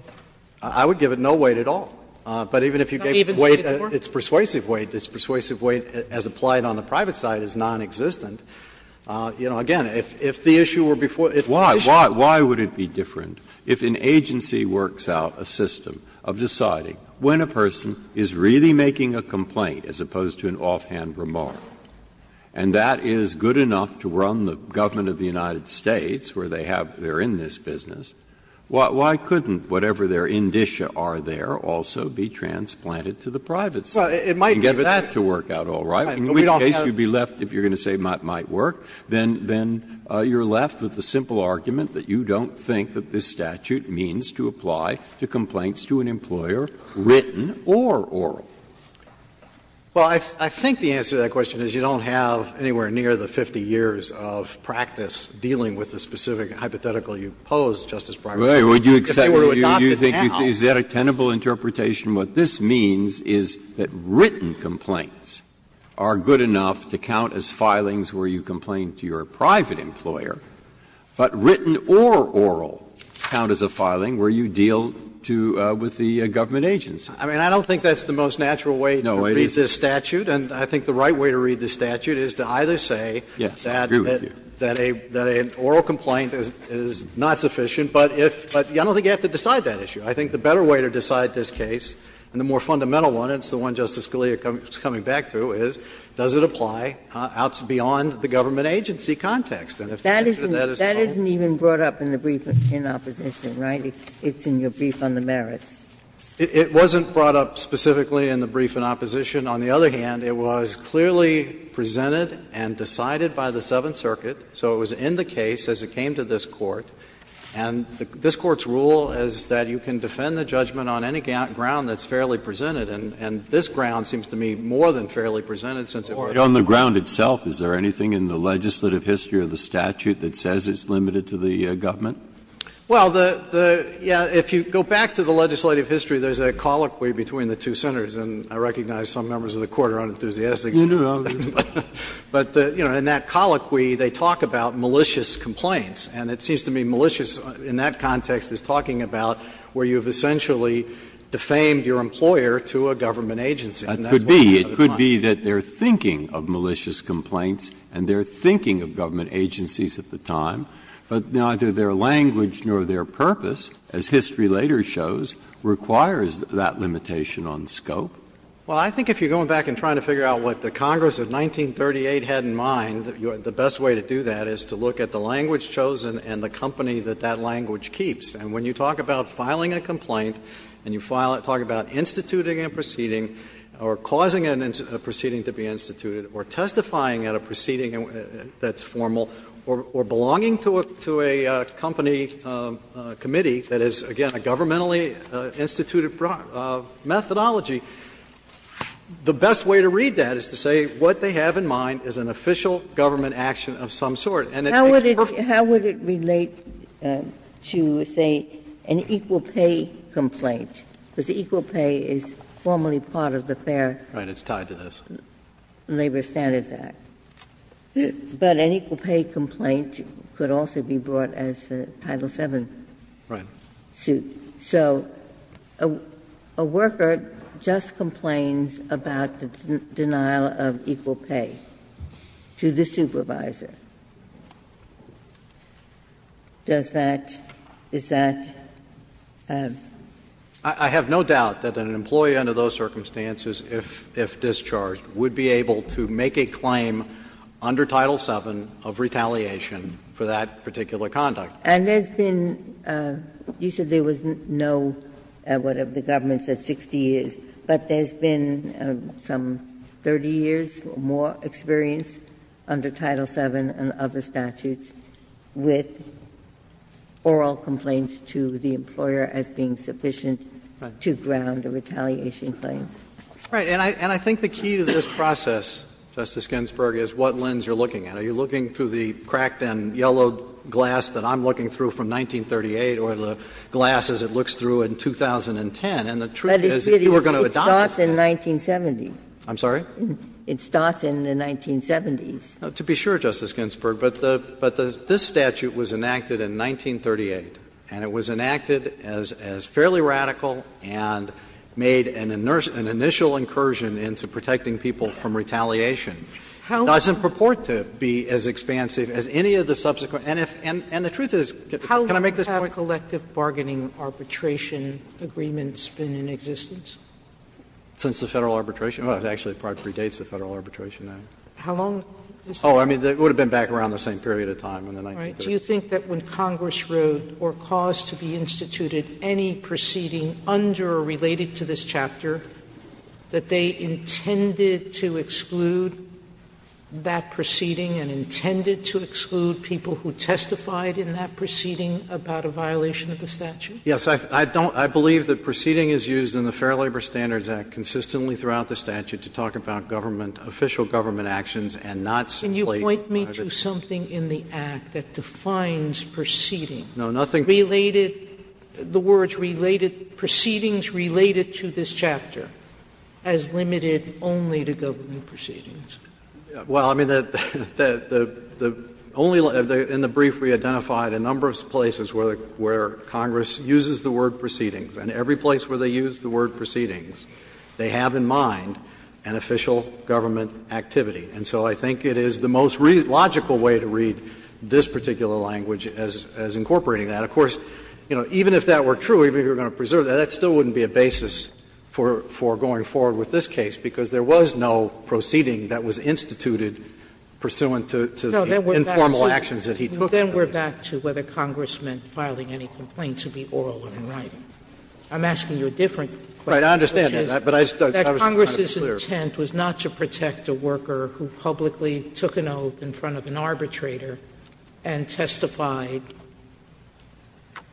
I would give it no weight at all. But even if you gave it weight, it's persuasive weight. It's persuasive weight as applied on the private side is nonexistent. You know, again, if the issue were before, if the issue were before. Breyer, Why would it be different if an agency works out a system of deciding when a person is really making a complaint as opposed to an offhand remark, and that is good enough to run the government of the United States, where they have they're in this business, why couldn't whatever their indicia are there also be transplanted to the private side? Well, it might be that to work out all right, but we don't have. In case you'd be left, if you're going to say it might work, then you're left with the simple argument that you don't think that this statute means to apply to complaints to an employer, written or oral. Well, I think the answer to that question is you don't have anywhere near the 50 years of practice dealing with the specific hypothetical you pose, Justice Breyer. If they were to adopt it now. Breyer, would you accept, do you think, is that a tenable interpretation? What this means is that written complaints are good enough to count as filings where you complain to your private employer, but written or oral count as a filing where you deal to, with the government agency. I mean, I don't think that's the most natural way to read this statute. And I think the right way to read this statute is to either say that an oral complaint is not sufficient, but if, I don't think you have to decide that issue. I think the better way to decide this case, and the more fundamental one, and it's the one Justice Scalia is coming back to, is does it apply beyond the government agency context? And if the answer to that is no. That isn't even brought up in the brief in opposition, right? It's in your brief on the merits. It wasn't brought up specifically in the brief in opposition. On the other hand, it was clearly presented and decided by the Seventh Circuit. So it was in the case as it came to this Court. And this Court's rule is that you can defend the judgment on any ground that's fairly presented. And this ground seems to me more than fairly presented, since it was on the ground itself. Is there anything in the legislative history of the statute that says it's limited to the government? Well, the — yeah, if you go back to the legislative history, there's a colloquy between the two senators, and I recognize some members of the Court are unenthusiastic. You know. But, you know, in that colloquy, they talk about malicious complaints, and it seems to me malicious in that context is talking about where you've essentially defamed your employer to a government agency. And that's what I'm trying to find. It could be. It could be that they're thinking of malicious complaints, and they're thinking of government agencies at the time, but neither their language nor their purpose, as history later shows, requires that limitation on scope. Well, I think if you're going back and trying to figure out what the Congress of 1938 had in mind, the best way to do that is to look at the language chosen and the company that that language keeps. And when you talk about filing a complaint and you file it, talk about instituting a proceeding or causing a proceeding to be instituted or testifying at a proceeding that's formal, or belonging to a company committee that is, again, a governmentally instituted methodology, the best way to read that is to say what they have in mind is an official government action of some sort. And it makes perfect sense. Ginsburg How would it relate to, say, an equal pay complaint, because equal pay is formally part of the Fair Labor Standards Act? But an equal pay complaint could also be brought as a Title VII suit. So a worker just complains about the denial of equal pay to the supervisor. Does that – is that a – I have no doubt that an employee under those circumstances, if discharged, would be able to make a claim under Title VII of retaliation for that particular conduct. Ginsburg And there's been – you said there was no, what, the government said 60 years, but there's been some 30 years or more experience under Title VII and other statutes with oral complaints to the employer as being sufficient to ground a retaliation claim. Gershengorn Right. And I think the key to this process, Justice Ginsburg, is what lens you're looking at. Are you looking through the cracked and yellowed glass that I'm looking through from 1938 or the glass as it looks through in 2010? And the truth is, if you were going to adopt this statute – Ginsburg But it starts in 1970s. Gershengorn I'm sorry? Ginsburg It starts in the 1970s. Gershengorn To be sure, Justice Ginsburg, but the – but this statute was enacted in 1938, and it was enacted as fairly radical and made an initial incursion into protecting people from retaliation. It doesn't purport to be as expansive as any of the subsequent – and if – and the truth is – can I make this point? Sotomayor How long have collective bargaining arbitration agreements been in existence? Gershengorn Since the Federal Arbitration Act. It actually probably predates the Federal Arbitration Act. Sotomayor How long is that? Gershengorn Oh, I mean, it would have been back around the same period of time in the 1930s. Sotomayor Do you think that when Congress wrote or caused to be instituted any proceeding under or related to this chapter, that they intended to exclude that proceeding and intended to exclude people who testified in that proceeding about a violation of the statute? Gershengorn Yes. I don't – I believe the proceeding is used in the Fair Labor Standards Act consistently throughout the statute to talk about government – official government actions and not simply private. Sotomayor Do you think that Congress did not do something in the Act that defines proceeding related – the words related – proceedings related to this chapter as limited only to government proceedings? Gershengorn Well, I mean, the – the only – in the brief we identified a number of places where Congress uses the word proceedings, and every place where they use the word proceedings, they have in mind an official government activity. And so I think it is the most logical way to read this particular language as incorporating that. Of course, you know, even if that were true, even if you were going to preserve that, that still wouldn't be a basis for going forward with this case, because there was no proceeding that was instituted pursuant to the informal actions that he took. Sotomayor Then we're back to whether Congress meant filing any complaint to be oral and right. I'm asking you a different question, which is that Congress's intent was not to protect a worker who publicly took an oath in front of an arbitrator and testified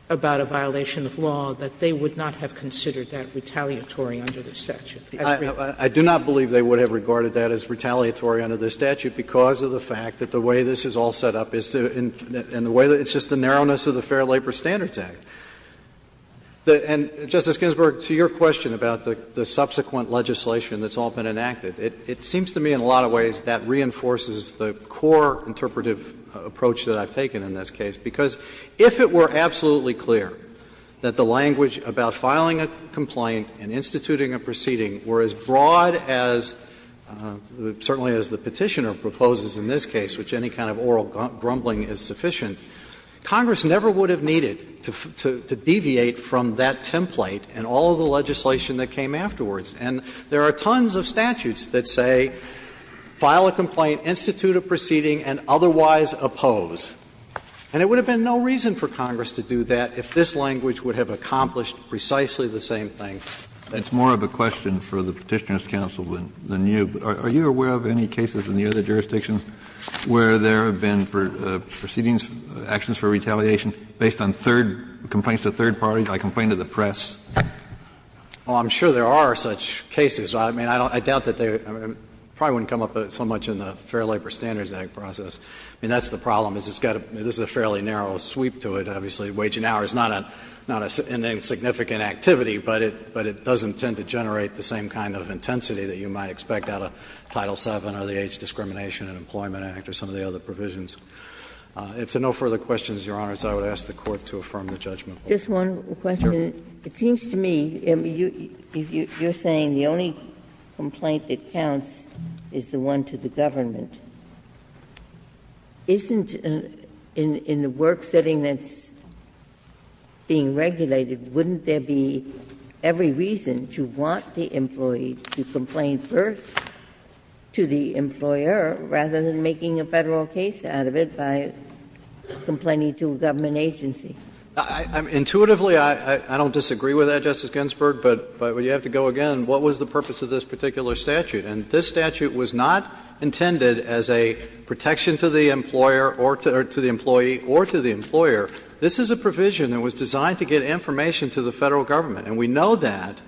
about a violation of law, that they would not have considered that retaliatory under the statute. I agree with that. Phillips I do not believe they would have regarded that as retaliatory under the statute because of the fact that the way this is all set up is to – and the way that it's just the narrowness of the Fair Labor Standards Act. And, Justice Ginsburg, to your question about the subsequent legislation that's developed and enacted, it seems to me in a lot of ways that reinforces the core interpretive approach that I've taken in this case, because if it were absolutely clear that the language about filing a complaint and instituting a proceeding were as broad as, certainly as the Petitioner proposes in this case, which any kind of oral grumbling is sufficient, Congress never would have needed to deviate from that template and all of the legislation that came afterwards. And there are tons of statutes that say, file a complaint, institute a proceeding, and otherwise oppose. And it would have been no reason for Congress to do that if this language would have accomplished precisely the same thing. Kennedy. It's more of a question for the Petitioner's counsel than you, but are you aware of any cases in the other jurisdictions where there have been proceedings, actions for retaliation, based on third – complaints to third parties, like a complaint to the press? Well, I'm sure there are such cases. I mean, I doubt that they – it probably wouldn't come up so much in the Fair Labor Standards Act process. I mean, that's the problem, is it's got a – this is a fairly narrow sweep to it, obviously. Waging hours, not a significant activity, but it doesn't tend to generate the same kind of intensity that you might expect out of Title VII or the Age Discrimination and Employment Act or some of the other provisions. If there are no further questions, Your Honors, I would ask the Court to affirm the judgment. Just one question. It seems to me, you're saying the only complaint that counts is the one to the government. Isn't in the work setting that's being regulated, wouldn't there be every reason to want the employee to complain first to the employer rather than making a Federal case out of it by complaining to a government agency? Intuitively, I don't disagree with that, Justice Ginsburg, but you have to go again. What was the purpose of this particular statute? And this statute was not intended as a protection to the employer or to the employee or to the employer. This is a provision that was designed to get information to the Federal government. And we know that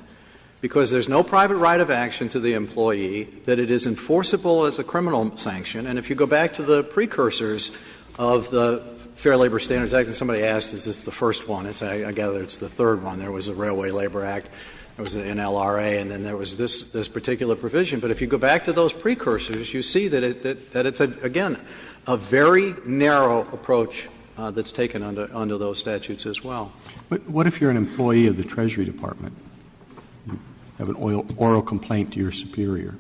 because there's no private right of action to the employee that it is enforceable as a criminal sanction. And if you go back to the precursors of the Fair Labor Standards Act and somebody asked, is this the first one, I gather it's the third one, there was a Railway Labor Act, there was an NLRA, and then there was this particular provision. But if you go back to those precursors, you see that it's, again, a very narrow approach that's taken under those statutes as well. But what if you're an employee of the Treasury Department? You have an oral complaint to your superior.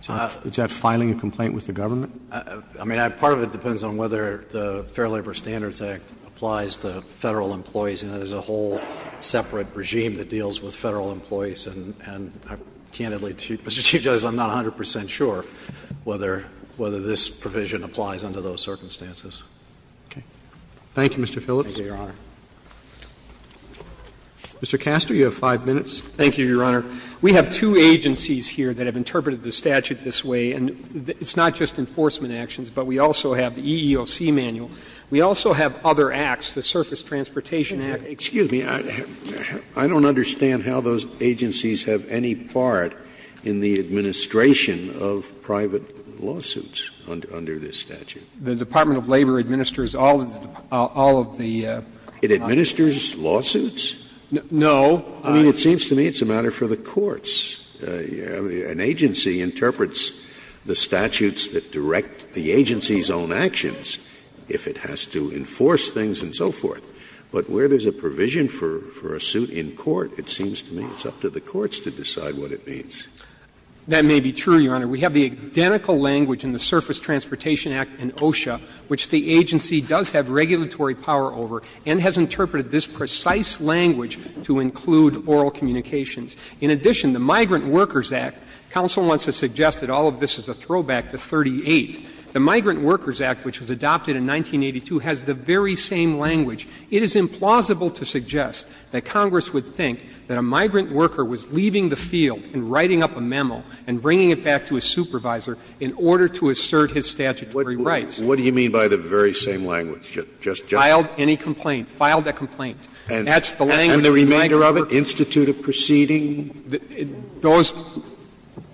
Is that filing a complaint with the government? I mean, part of it depends on whether the Fair Labor Standards Act applies to Federal employees. You know, there's a whole separate regime that deals with Federal employees. And I candidly, Mr. Chief Justice, I'm not a hundred percent sure whether this provision applies under those circumstances. Robertson, Thank you, Mr. Phillips. Phillips, Thank you, Your Honor. Roberts, Mr. Castor, you have 5 minutes. Castor, Thank you, Your Honor. We have two agencies here that have interpreted the statute this way. And it's not just enforcement actions, but we also have the EEOC manual. We also have other acts, the Surface Transportation Act. Scalia, excuse me. I don't understand how those agencies have any part in the administration of private lawsuits under this statute. The Department of Labor administers all of the. It administers lawsuits? No. I mean, it seems to me it's a matter for the courts. An agency interprets the statutes that direct the agency's own actions if it has to enforce things and so forth. But where there's a provision for a suit in court, it seems to me it's up to the courts to decide what it means. That may be true, Your Honor. We have the identical language in the Surface Transportation Act and OSHA, which the agency does have regulatory power over and has interpreted this precise language to include oral communications. In addition, the Migrant Workers Act, counsel wants to suggest that all of this is a throwback to 38. The Migrant Workers Act, which was adopted in 1982, has the very same language. It is implausible to suggest that Congress would think that a migrant worker was leaving the field and writing up a memo and bringing it back to his supervisor in order to assert his statutory rights. Scalia, what do you mean by the very same language? Just general? Filed a complaint. That's the language of the migrant worker. And the remainder of it, institute a proceeding,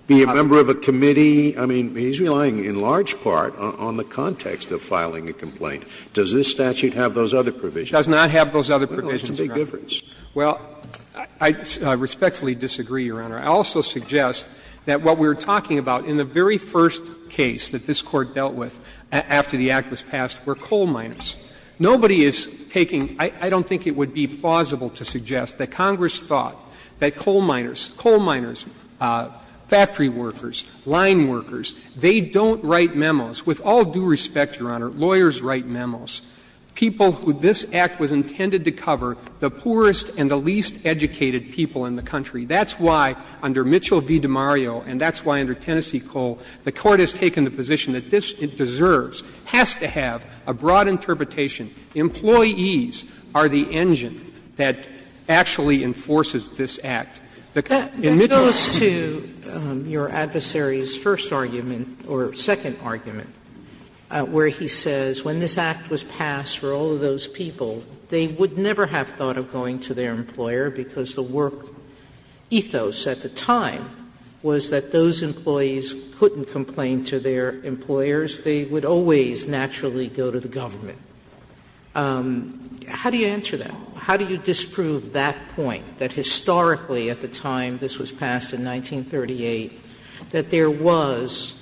be a member of a committee. I mean, he's relying in large part on the context of filing a complaint. Does this statute have those other provisions? It does not have those other provisions, Your Honor. Well, it's a big difference. Well, I respectfully disagree, Your Honor. I also suggest that what we're talking about in the very first case that this Court dealt with after the act was passed were coal miners. Nobody is taking — I don't think it would be plausible to suggest that Congress thought that coal miners, coal miners, factory workers, line workers, they don't write memos. With all due respect, Your Honor, lawyers write memos. People who this act was intended to cover, the poorest and the least educated people in the country. That's why under Mitchell v. DiMario and that's why under Tennessee Coal, the Court has taken the position that this deserves, has to have a broad interpretation, employees are the engine that actually enforces this act. Sotomayor, in Mitchell v. DiMario, the Court said, Sotomayor, in Mitchell v. DiMario, that that goes to your adversary's first argument or second argument, where he says when this act was passed for all of those people, they would never have thought of going to their employer because the work ethos at the time was that those employees couldn't complain to their employers. They would always naturally go to the government. How do you answer that? How do you disprove that point, that historically at the time this was passed in 1938, that there was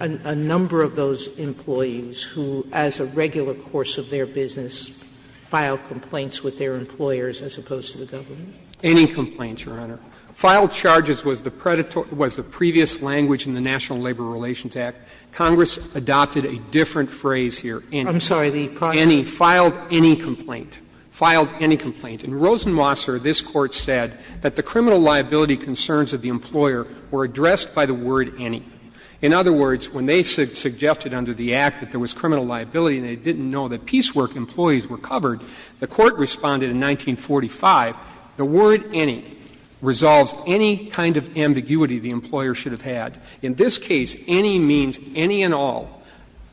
a number of those employees who, as a regular course of their business, filed complaints with their employers as opposed to the government? Any complaints, Your Honor. Filed charges was the predatory — was the previous language in the National Labor Relations Act. Congress adopted a different phrase here. I'm sorry. The project. Filed any complaint. Filed any complaint. In Rosenwasser, this Court said that the criminal liability concerns of the employer were addressed by the word any. In other words, when they suggested under the act that there was criminal liability and they didn't know that piecework employees were covered, the Court responded in 1945, the word any resolves any kind of ambiguity the employer should have had. In this case, any means any and all,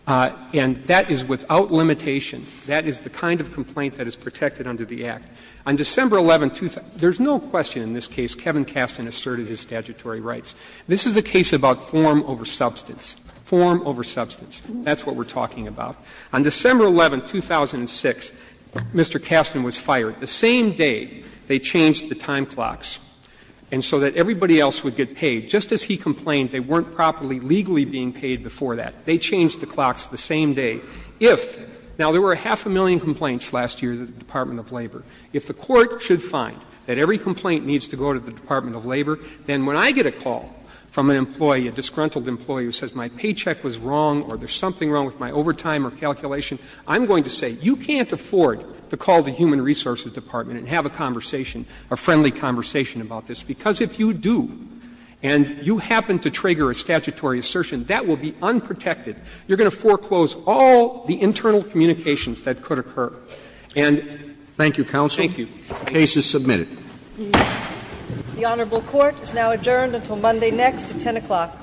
and that is without limitation. That is the kind of complaint that is protected under the act. On December 11, there's no question in this case Kevin Kastan asserted his statutory rights. This is a case about form over substance. Form over substance. That's what we're talking about. On December 11, 2006, Mr. Kastan was fired the same day they changed the time clocks and so that everybody else would get paid. Just as he complained they weren't properly legally being paid before that. They changed the clocks the same day if — now, there were a half a million complaints last year at the Department of Labor. If the Court should find that every complaint needs to go to the Department of Labor, then when I get a call from an employee, a disgruntled employee who says my paycheck was wrong or there's something wrong with my overtime or calculation, I'm going to say, you can't afford to call the Human Resources Department and have a conversation, a friendly conversation about this, because if you do and you happen to trigger a statutory assertion, that will be unprotected. You're going to foreclose all the internal communications that could occur. And — Roberts. Thank you, counsel. Thank you. The case is submitted. The Honorable Court is now adjourned until Monday next at 10 o'clock.